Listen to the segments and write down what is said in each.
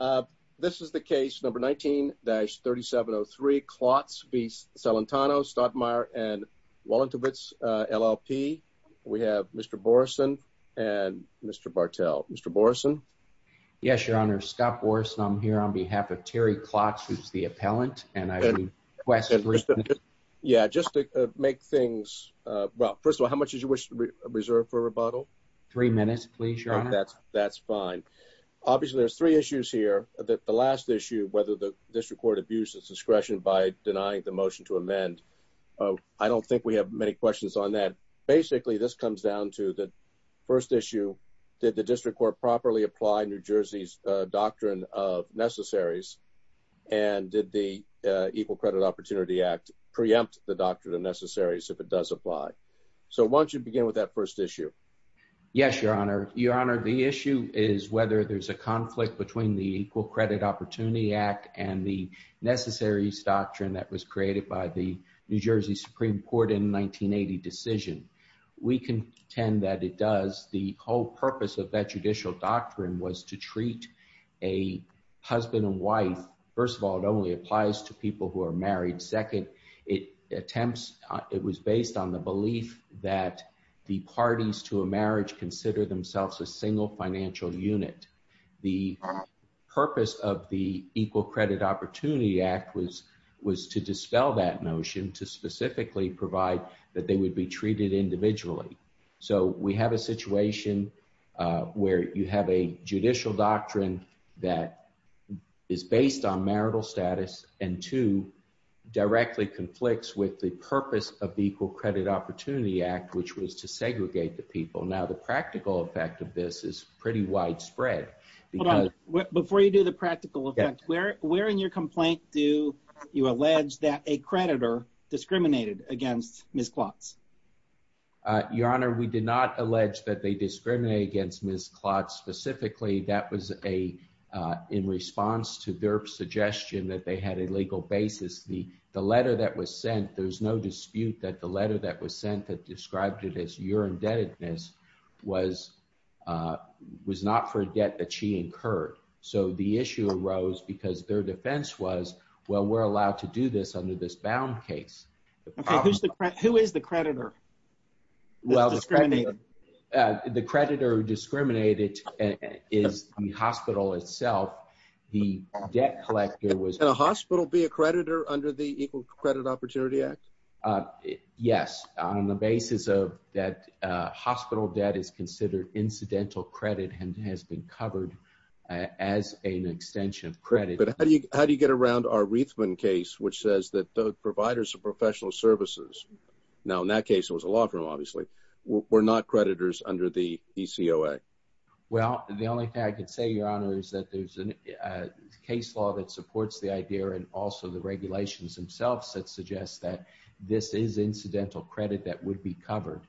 19-3703 Klotz v. Celentano Stadtmauer and Walentowicz, LLP We have Mr. Borson and Mr. Bartel. Mr. Borson? Yes, Your Honor. Scott Borson. I'm here on behalf of Terry Klotz, who's the appellant, and I request... Yeah, just to make things... Well, first of all, how much did you wish to reserve for Three minutes, please, Your Honor. That's fine. Obviously, there's three issues here. The last issue, whether the district court abuses discretion by denying the motion to amend. I don't think we have many questions on that. Basically, this comes down to the first issue, did the district court properly apply New Jersey's doctrine of necessaries? And did the Equal Credit Opportunity Act preempt the doctrine of necessaries if it does apply? So why don't you begin with that first issue? Yes, Your Honor. Your Honor, the issue is whether there's a conflict between the Equal Credit Opportunity Act and the necessaries doctrine that was created by the New Jersey Supreme Court in 1980 decision. We contend that it does. The whole purpose of that judicial doctrine was to treat a husband and wife... First of all, it only applies to people who are married. Second, it attempts... It was based on the belief that the parties to a marriage consider themselves a single financial unit. The purpose of the Equal Credit Opportunity Act was to dispel that notion, to specifically provide that they would be treated individually. So we have a situation where you have a judicial doctrine that is based on marital status, and two, directly conflicts with the purpose of the Equal Credit Opportunity Act, which was to segregate the people. Now, the practical effect of this is pretty widespread. Before you do the practical effect, where in your complaint do you allege that a creditor discriminated against Ms. Klotz? Your Honor, we did not allege that they discriminated against Ms. Klotz. Specifically, that was in response to their suggestion that they had a legal basis. The letter that was sent, there's no dispute that the letter that was sent that described it as your indebtedness was not for a debt that she incurred. So the issue arose because their defense was, well, we're allowed to do this under this bound case. Okay, who is the creditor? Well, the creditor who discriminated is the hospital itself. The debt collector was... Can a hospital be a creditor under the Equal Credit Opportunity Act? Yes, on the basis of that hospital debt is considered incidental credit and has been covered as an extension of credit. But how do you get around our Reithman case, which says that the providers of professional services, now in that case, it was a law firm, obviously, were not creditors under the ECOA? Well, the only thing I could say, Your Honor, is that there's a case law that supports the idea and also the regulations themselves that suggest that this is incidental credit that would be covered.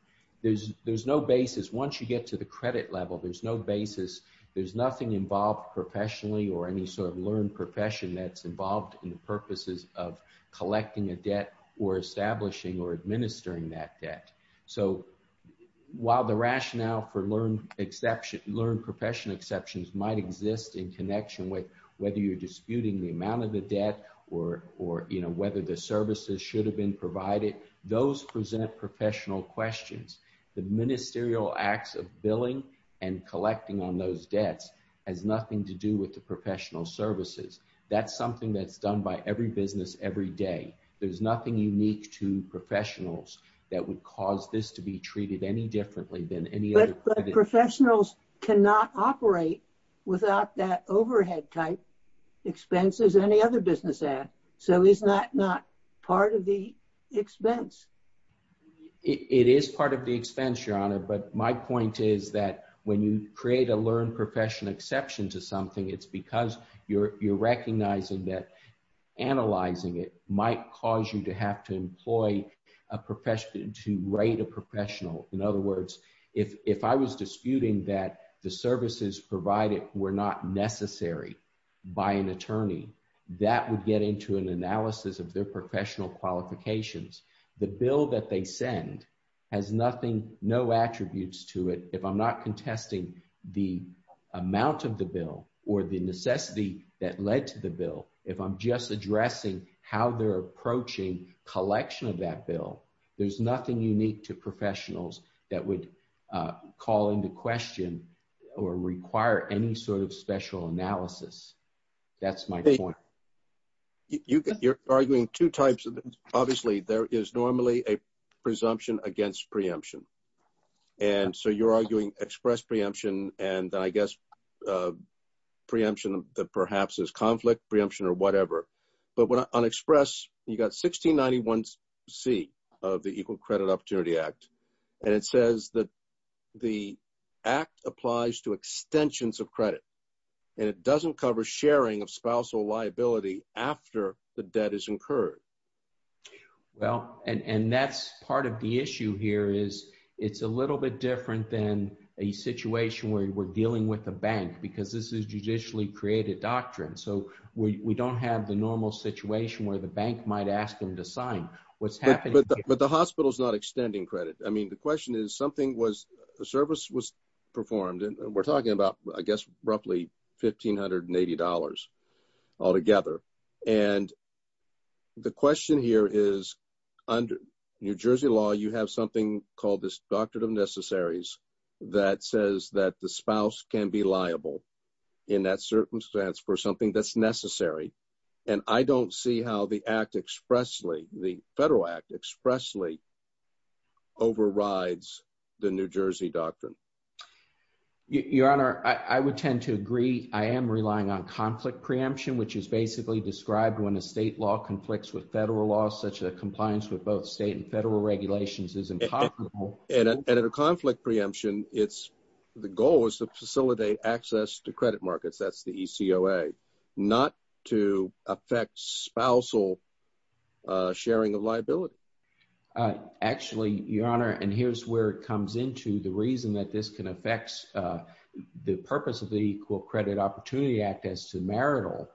There's no basis. Once you get to the credit level, there's no basis. There's nothing involved professionally or any sort of learned profession that's involved in the purposes of collecting a debt or establishing or administering that debt. So while the rationale for learned profession exceptions might exist in connection with whether you're disputing the amount of the debt or whether the services should have been provided, those present professional questions. The ministerial acts of billing and collecting on those debts has nothing to do with the professional services. That's something that's done by every business every day. There's nothing unique to professionals that would cause this to be treated any differently than any other. But professionals cannot operate without that overhead type expenses any other business has. So is that not part of the expense? It is part of the expense, Your Honor. But my point is that when you create a learned profession exception to something, it's because you're recognizing that analyzing it might cause you to have to employ a profession to rate a professional. In other words, if I was disputing that the services provided were not necessary by an attorney, that would get into an analysis of their professional qualifications. The bill that they send has nothing, no attributes to it. If I'm not contesting the necessity that led to the bill, if I'm just addressing how they're approaching collection of that bill, there's nothing unique to professionals that would call into question or require any sort of special analysis. That's my point. You're arguing two types. Obviously, there is normally a presumption against preemption. And so you're arguing express preemption and I guess preemption that perhaps is conflict preemption or whatever. But when on express, you got 1691 C of the Equal Credit Opportunity Act. And it says that the act applies to extensions of credit. And it doesn't cover sharing of spousal liability after the debt is incurred. Well, and that's part of the issue here is it's a little bit different than a situation where we're dealing with a bank because this is a judicially created doctrine. So we don't have the normal situation where the bank might ask them to sign what's happening. But the hospital's not extending credit. I mean, the question is something was a service was performed and we're $280 all together. And the question here is, under New Jersey law, you have something called this Doctrine of Necessaries that says that the spouse can be liable in that circumstance for something that's necessary. And I don't see how the act expressly the Federal Act expressly overrides the New Jersey doctrine. Your Honor, I would tend to agree I am relying on conflict preemption, which is basically described when a state law conflicts with federal laws, such that compliance with both state and federal regulations is incomparable. And at a conflict preemption, it's the goal is to facilitate access to credit markets, that's the ECOA, not to affect spousal sharing of liability. Actually, Your Honor, and here's where it comes into the reason that this can affect the purpose of the Equal Credit Opportunity Act as to marital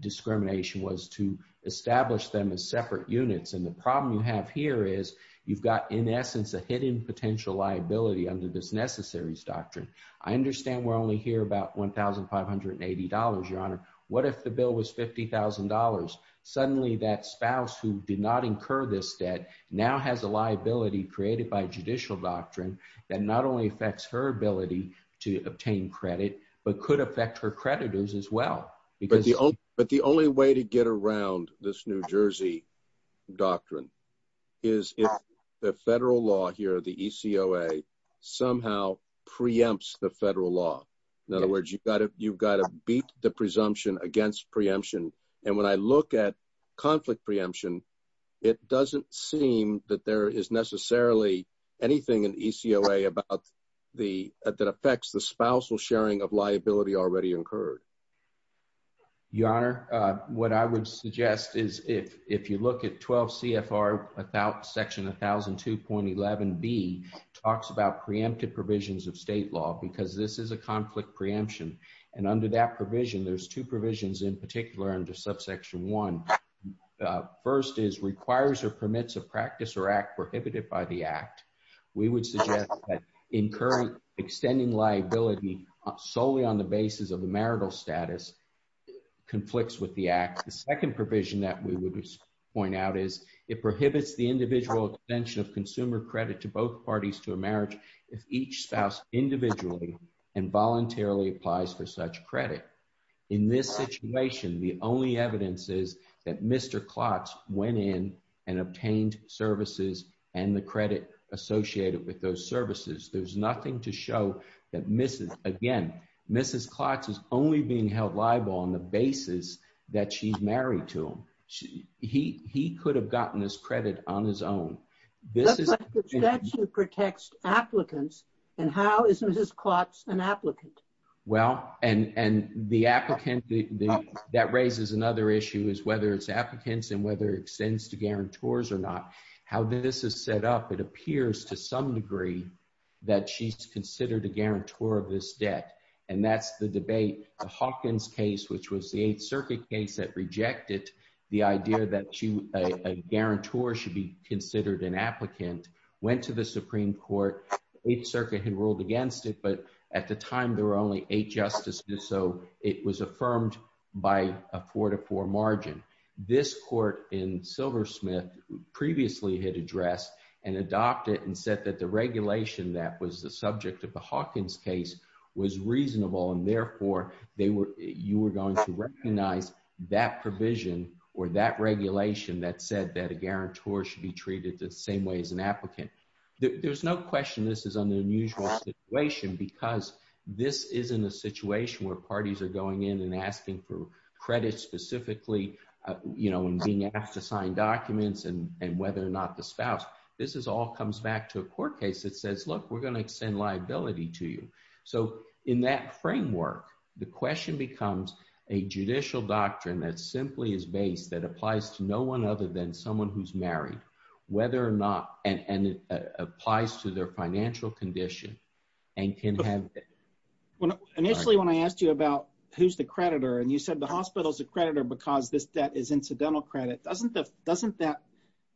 discrimination was to establish them as separate units. And the problem you have here is you've got, in essence, a hidden potential liability under this Necessaries Doctrine. I understand we're only here about $1,580, Your Honor. What if the bill was $50,000? Suddenly, that spouse who did not incur this debt now has a liability created by judicial doctrine that not only affects her ability to obtain credit, but could affect her creditors as well. But the only way to get around this New Jersey doctrine is if the federal law here, the ECOA, somehow preempts the federal law. In other words, you've got to beat the presumption against preemption. And when I look at conflict preemption, it doesn't seem that there is necessarily anything in ECOA that affects the spousal sharing of liability already incurred. Your Honor, what I would suggest is if you look at 12 CFR section 1002.11b, it talks about preempted provisions of state law because this is a conflict preemption. And under that provision, there's two provisions in particular under subsection 1. First is requires or permits a practice or act prohibited by the act. We would suggest that incurring extending liability solely on the basis of the marital status conflicts with the act. The second provision that we would point out is it prohibits the individual extension of consumer credit to both parties to a marriage if each spouse individually and voluntarily applies for such credit. In this situation, the only evidence is that Mr. Klotz went in and obtained services and the credit associated with those services. There's nothing to show that, again, Mrs. Klotz is only being held liable on the basis that she's married to him. He could have gotten this credit on his own. The statute protects applicants and how is Mrs. Klotz an applicant? Well, and the applicant, that raises another issue is whether it's applicants and whether it extends to guarantors or not. How this is set up, it appears to some degree that she's considered a guarantor of this debt, and that's the debate. The Hawkins case, which was the 8th Circuit case that rejected the idea that a guarantor should be considered an applicant, went to the Supreme Court. The 8th Circuit had ruled against it, but at the time there were only eight justices, so it was affirmed by a four to four margin. This court in Silversmith previously had addressed and adopted and said that the regulation that was the subject of the Hawkins case was reasonable and therefore you were going to recognize that provision or that regulation that said that a guarantor should be treated the same way as an applicant. There's no question this is an unusual situation because this isn't a situation where parties are going in and asking for the spouse. This all comes back to a court case that says, look, we're going to extend liability to you. So in that framework, the question becomes a judicial doctrine that simply is based, that applies to no one other than someone who's married, whether or not, and it applies to their financial condition and can have it. Initially when I asked you about who's the creditor and you said the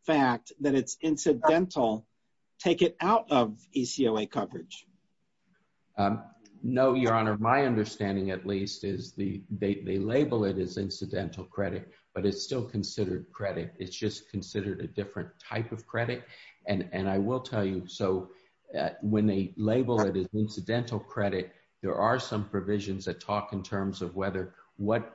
fact that it's incidental, take it out of ECOA coverage. No, your honor, my understanding at least is they label it as incidental credit, but it's still considered credit. It's just considered a different type of credit and I will tell you, so when they label it as incidental credit, there are some provisions that talk in terms of whether what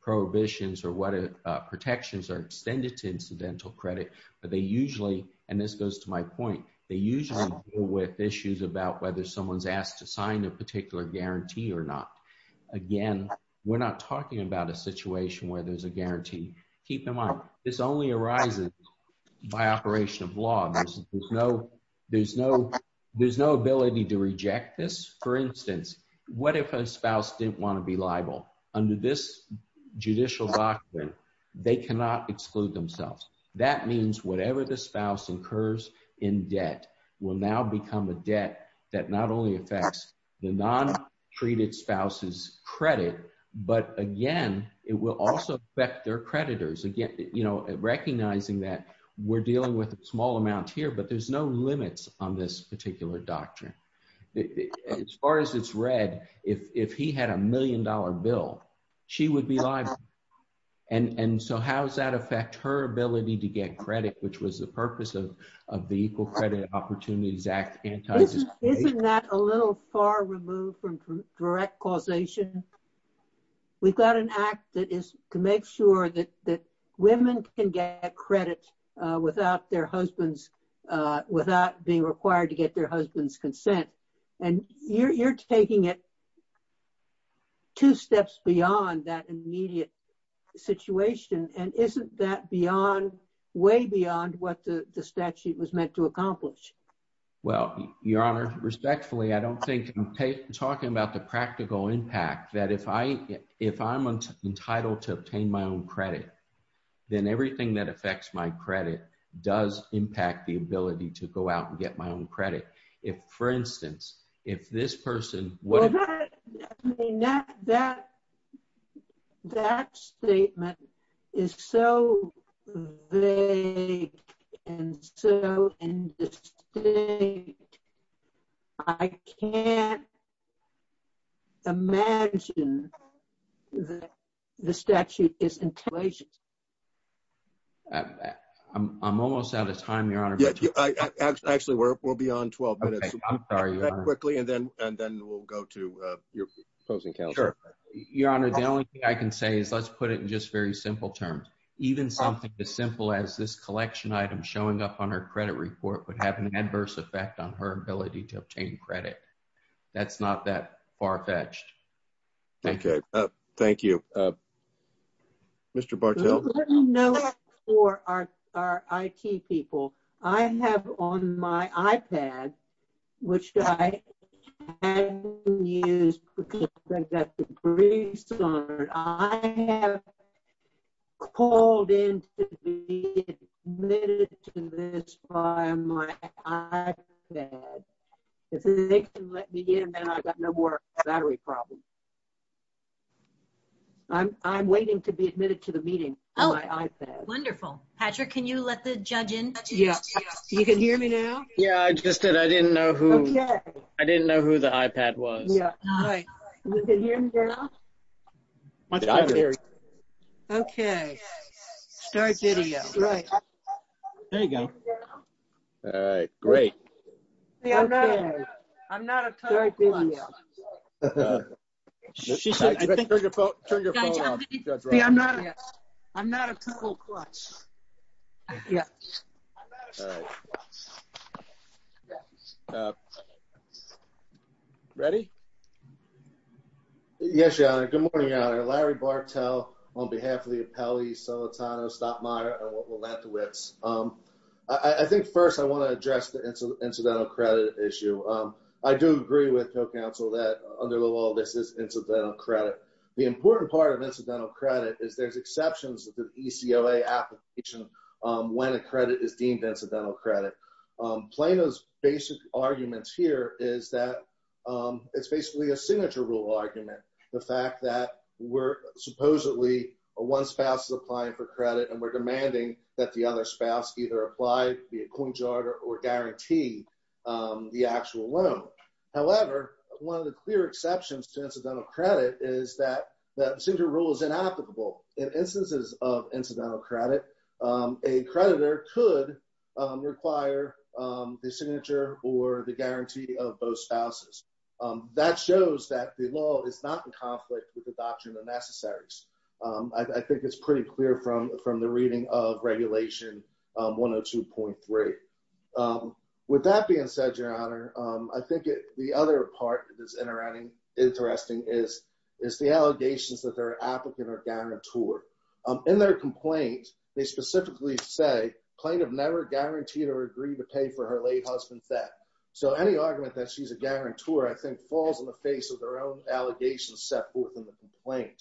prohibitions or what incidental credit, but they usually, and this goes to my point, they usually deal with issues about whether someone's asked to sign a particular guarantee or not. Again, we're not talking about a situation where there's a guarantee. Keep in mind, this only arises by operation of law. There's no ability to reject this. For instance, what if a spouse didn't want to be liable? Under this judicial doctrine, they cannot exclude themselves. That means whatever the spouse incurs in debt will now become a debt that not only affects the non-treated spouse's credit, but again, it will also affect their creditors. Again, recognizing that we're dealing with a small amount here, but there's no limits on this particular doctrine. As far as it's read, if he had a million dollar bill, she would be liable. How's that affect her ability to get credit, which was the purpose of the Equal Credit Opportunities Act? Isn't that a little far removed from direct causation? We've got an act that is to make sure that women can get credit without their husbands, without being required to get their husband's consent. You're taking it two steps beyond that immediate situation. Isn't that way beyond what the statute was meant to accomplish? Well, Your Honor, respectfully, I don't think I'm talking about the practical impact that if I'm entitled to obtain my own credit, then everything that affects my credit does impact the ability to go out and get my own credit. For instance, if this person... That statement is so vague and so indistinct. I can't imagine that the statute is... I'm almost out of time, Your Honor. Actually, we're beyond 12 minutes. And then we'll go to your opposing counsel. Your Honor, the only thing I can say is let's put it in just very simple terms. Even something as simple as this collection item showing up on her credit report would have an adverse effect on her ability to obtain credit. That's not that far-fetched. Okay. Thank you. Mr. Bartelt? Let me know that for our IT people. I have on my iPad, which I haven't used because I've got the grease on it. I have called in to be admitted to this by my iPad. If they can let me in, then I've got no more battery problems. I'm waiting to be admitted to the meeting on my iPad. Wonderful. Patrick, can you let the know who... I didn't know who the iPad was. Okay. Start video. Right. There you go. All right. Great. I'm not a total klutz. Ready? Yes, Your Honor. Good morning, Your Honor. Larry Bartelt on behalf of the appellee, Solitano, Stott-Meyer, and Lattowitz. I think first I want to address the incidental credit issue. I do agree with your counsel that under the law, this is incidental credit. The important part of incidental credit is there's exceptions to the ECOA application when a credit is deemed incidental credit. Plano's basic argument here is that it's basically a signature rule argument. The fact that we're supposedly, one spouse is applying for credit and we're demanding that the other spouse either apply, be a co-injured, or guarantee the actual loan. However, one of the clear exceptions to incidental credit is that the signature rule is inapplicable. In require the signature or the guarantee of both spouses. That shows that the law is not in conflict with the doctrine of necessaries. I think it's pretty clear from the reading of Regulation 102.3. With that being said, Your Honor, I think the other part that is interesting is the allegations that their applicant or guarantor. In their complaint, they specifically say Plano never guaranteed or agreed to pay for her late husband's debt. So, any argument that she's a guarantor, I think, falls in the face of their own allegations set forth in the complaint.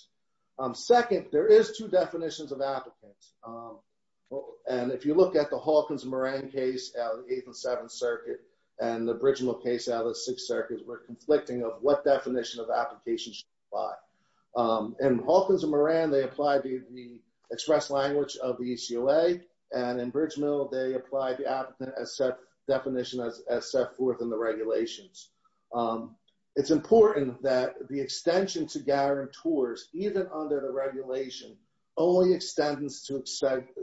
Second, there is two definitions of applicants. And if you look at the Hawkins and Moran case out of the 8th and 7th Circuit and the Bridgemoor case out of the 6th Circuit, we're conflicting of what definition of application should apply. In Hawkins and Moran, they apply the express language of the ECOA. And in Bridgemoor, they apply the definition as set forth in the regulations. It's important that the extension to guarantors, even under the regulation, only extends to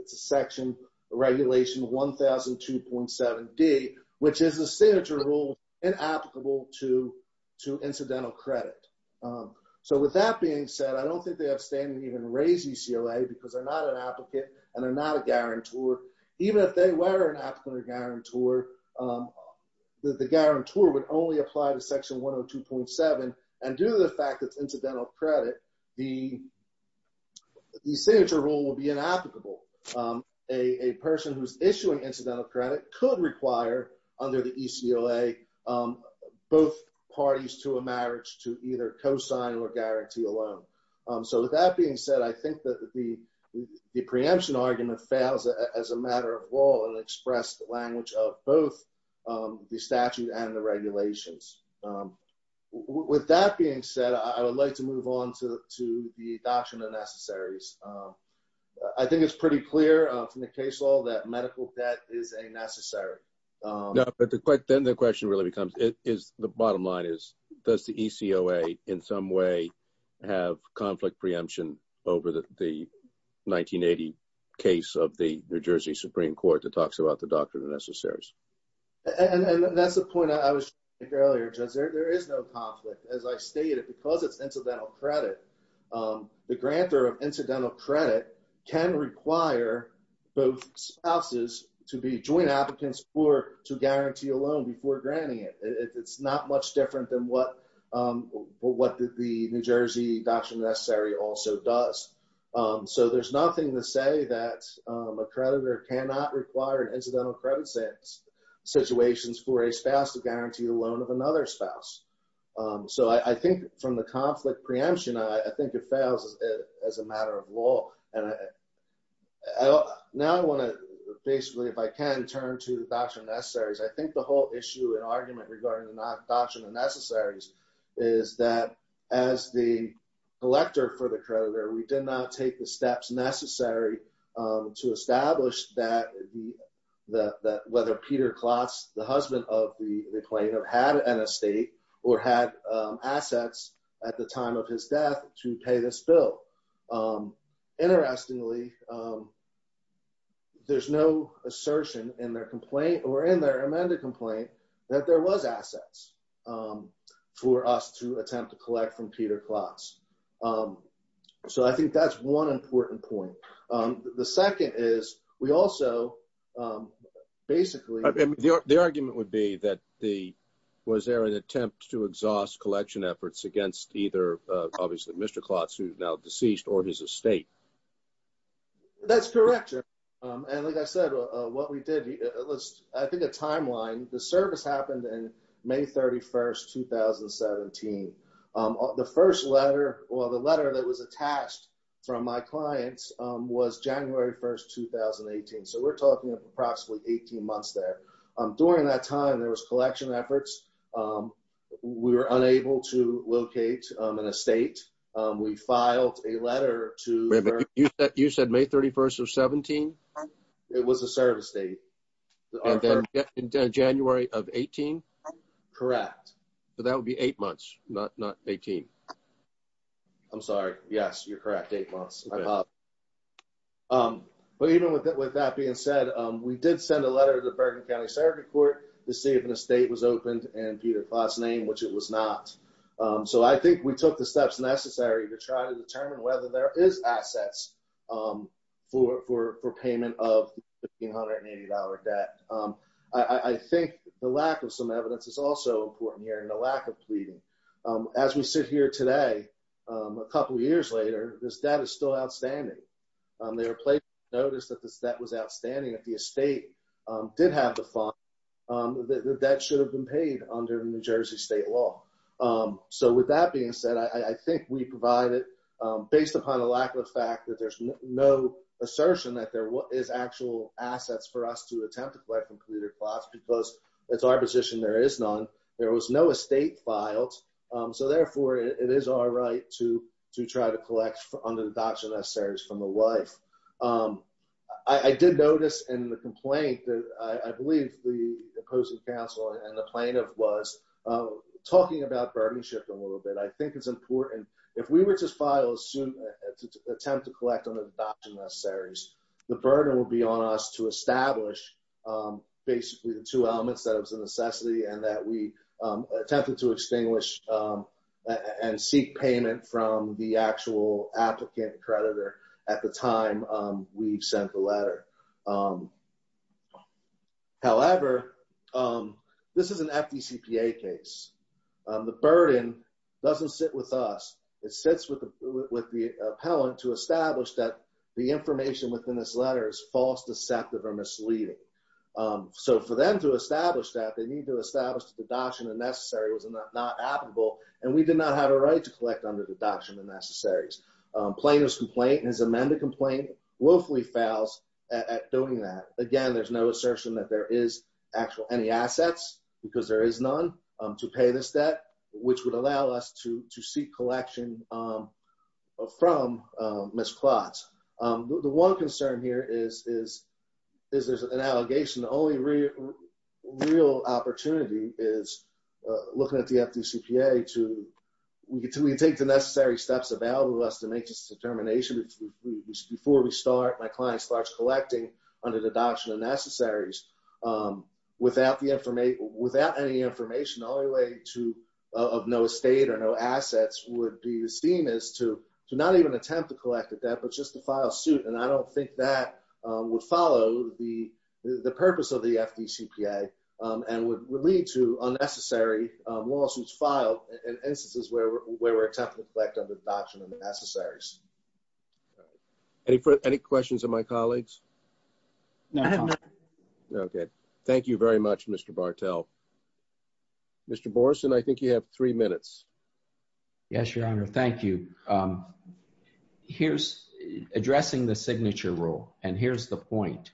Section Regulation 1002.7d, which is a signature rule inapplicable to incidental credit. So, with that being said, I don't think they have standing to even raise ECOA because they're not an applicant and they're not a guarantor. Even if they were an applicant or guarantor, the guarantor would only apply to Section 102.7. And due to the fact that it's incidental credit, the signature rule would be inapplicable. A person who's issuing incidental credit could require, under the ECOA, both parties to a marriage to either co-sign or guarantee a marriage. The preemption argument fails as a matter of law and expressed the language of both the statute and the regulations. With that being said, I would like to move on to the doctrine of necessaries. I think it's pretty clear from the case law that medical debt is a necessary. No, but then the question really becomes, the bottom line is, does the ECOA in some way have conflict preemption over the 1980 case of the New Jersey Supreme Court that talks about the doctrine of necessaries? And that's the point I was making earlier, Judge. There is no conflict. As I stated, because it's incidental credit, the grantor of incidental credit can require both spouses to be joint applicants or to guarantee a loan before granting it. It's not much different than what the New Jersey doctrine of necessary also does. So there's nothing to say that a creditor cannot require an incidental credit situation for a spouse to guarantee a loan of another spouse. So I think from the conflict preemption, I think it fails as a matter of law. Now I want to basically, if I can, turn to the doctrine of necessaries. I think the whole issue and argument regarding the doctrine of necessaries is that as the collector for the creditor, we did not take the steps necessary to establish that whether Peter Klotz, the husband of the plaintiff, had an estate or had assets at the time of his death to pay this bill. Interestingly, there's no assertion in their complaint, or in their amended complaint, that there was assets for us to attempt to collect from Peter Klotz. So I think that's one important point. The second is, we also basically... The argument would be that the, was there an attempt to exhaust collection efforts against either, obviously, Mr. Klotz, who's now deceased, or his estate? That's correct. And like I said, what we did was, I think, a timeline. The service happened in May 31st, 2017. The first letter, or the letter that was attached from my clients, was January 1st, 2018. So we're talking approximately 18 months there. During that time, there was collection efforts. We were unable to locate an estate. We filed a letter to... Wait a minute. You said May 31st of 17? It was a service date. And then January of 18? Correct. So that would be eight months, not 18. I'm sorry. Yes, you're correct. Eight months. But even with that being said, we did send a letter to the Bergen County Circuit Court to see if an estate was opened in Peter Klotz's name, which it was not. So I think we took the steps necessary to try to determine whether there is assets for payment of the $1,580 debt. I think the lack of some evidence is also important here, and the lack of pleading. As we sit here today, a couple years later, this debt is still outstanding. They were placed to notice that the debt was outstanding. If the estate did have the funds, the debt should have been paid under New Jersey state law. So with that being said, I think we provide it based upon the lack of fact that there's no assertion that there is actual assets for us to attempt to collect from Peter Klotz, because it's our position there is none. There it is our right to try to collect under the doctrine necessaries from the wife. I did notice in the complaint that I believe the opposing counsel and the plaintiff was talking about burdenship a little bit. I think it's important. If we were to file a suit to attempt to collect under the doctrine necessaries, the burden will be on us to establish basically the two elements that it was a necessity and that we attempted to extinguish and seek payment from the actual applicant creditor at the time we've sent the letter. However, this is an FDCPA case. The burden doesn't sit with us. It sits with the appellant to establish that the information within this letter is false, deceptive, or misleading. So for them to establish that, they need to establish that the doctrine of necessary was not applicable and we did not have a right to collect under the doctrine of necessaries. Plaintiff's complaint and his amended complaint willfully fails at doing that. Again, there's no assertion that there is actual any assets because there is none to pay this debt, which would allow us to seek collection from Ms. Klotz. The one concern here is there's an allegation. The only real opportunity is looking at the FDCPA to, we can take the necessary steps available to us to make this determination. Before we start, my client starts collecting under the doctrine of necessaries without any information, all the way to, of no estate or no assets would be the scheme is to not even attempt to collect the debt, but just to file suit. And I don't think that would follow the purpose of the FDCPA and would lead to unnecessary lawsuits filed in instances where we're attempting to collect under the doctrine of necessaries. Any questions of my colleagues? No. Okay. Thank you very much, Mr. Bartel. Mr. Borson, I think you have three minutes. Yes, Your Honor. Thank you. Here's addressing the signature rule. And here's the point.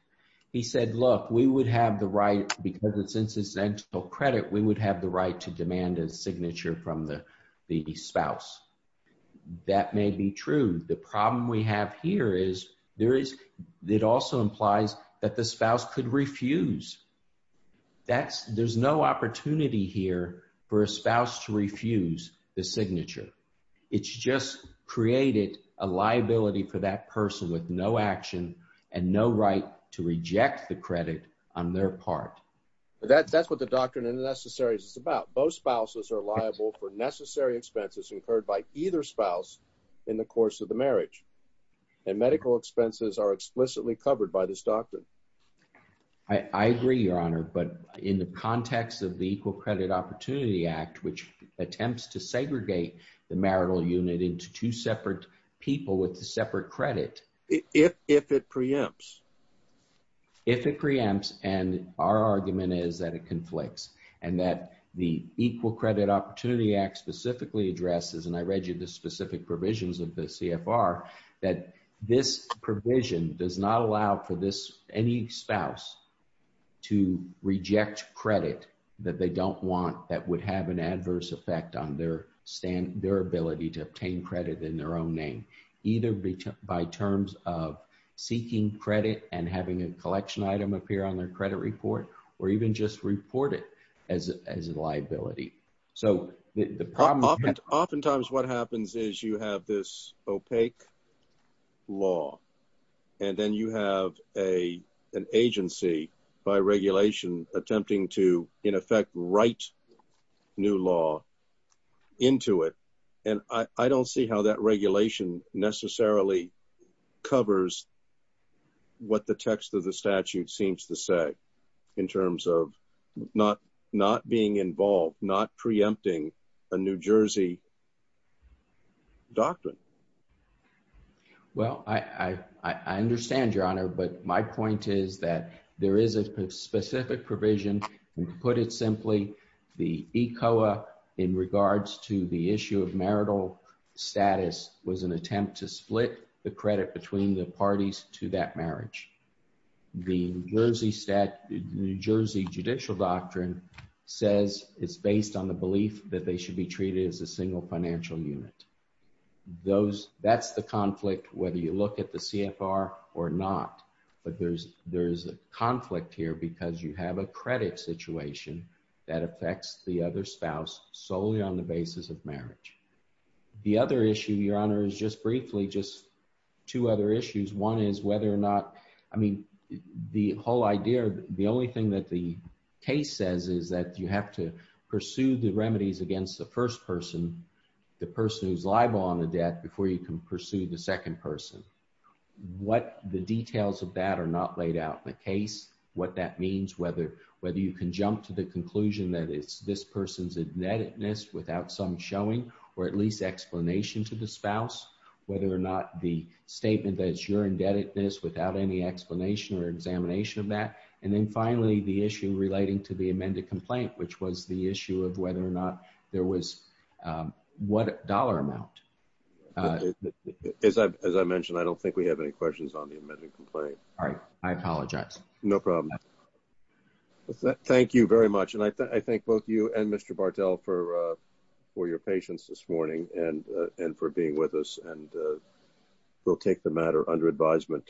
He said, look, we would have the right, because it's incidental credit, we would have the right to demand a signature from the spouse. That may be true. The problem we have here is there is, it also implies that the spouse could refuse. That's, there's no opportunity here for a spouse to refuse the signature. It's just created a liability for that person with no action and no right to reject the credit on their part. That's what the doctrine of necessaries is about. Both spouses are liable for necessary expenses incurred by either spouse in the course of the marriage. And medical expenses are explicitly covered by this doctrine. I agree, Your Honor. But in the context of the Equal Credit Opportunity Act, which attempts to segregate the marital unit into two separate people with the separate credit, if it preempts, if it preempts, and our argument is that it conflicts, and that the Equal Credit Opportunity Act specifically addresses, and I read you the specific provisions of the CFR, that this provision does not allow for this, any spouse to reject credit that they don't want that would have an adverse effect on their stand, their ability to obtain credit in their own name, either by terms of seeking credit and having a collection item appear on their credit report, or even just report it as a liability. So the problem, oftentimes what happens is you have this new law into it, and I don't see how that regulation necessarily covers what the text of the statute seems to say in terms of not being involved, not preempting a New Jersey doctrine. Well, I understand, Your Honor, but my point is that there is a specific provision, and to put it simply, the ECOA in regards to the issue of marital status was an attempt to split the credit between the parties to that marriage. The New Jersey judicial doctrine says it's based on the belief that they should be treated as a single financial unit. That's the conflict, whether you look at the CFR or not, but there's a conflict here because you have a credit situation that affects the other spouse solely on the basis of marriage. The other issue, Your Honor, is just briefly, just two other issues. One is whether or not, I mean, the whole idea, the only thing that the case says is that you have to pursue the remedies against the first person, the person who's liable on the debt before you can pursue the second person. What the details of that are not laid out in the case, what that means, whether you can jump to the conclusion that it's this person's indebtedness without some showing or at least explanation to the spouse, whether or not the statement that it's your indebtedness without any explanation or examination of that, and then finally, the issue relating to the amended complaint, which was the issue of whether or not there was, what dollar amount. As I mentioned, I don't think we have any questions on the amended complaint. All right. I apologize. No problem. Thank you very much, and I thank both you and Mr. Bartel for your patience this morning and for being with us, and we'll take the matter under advisement.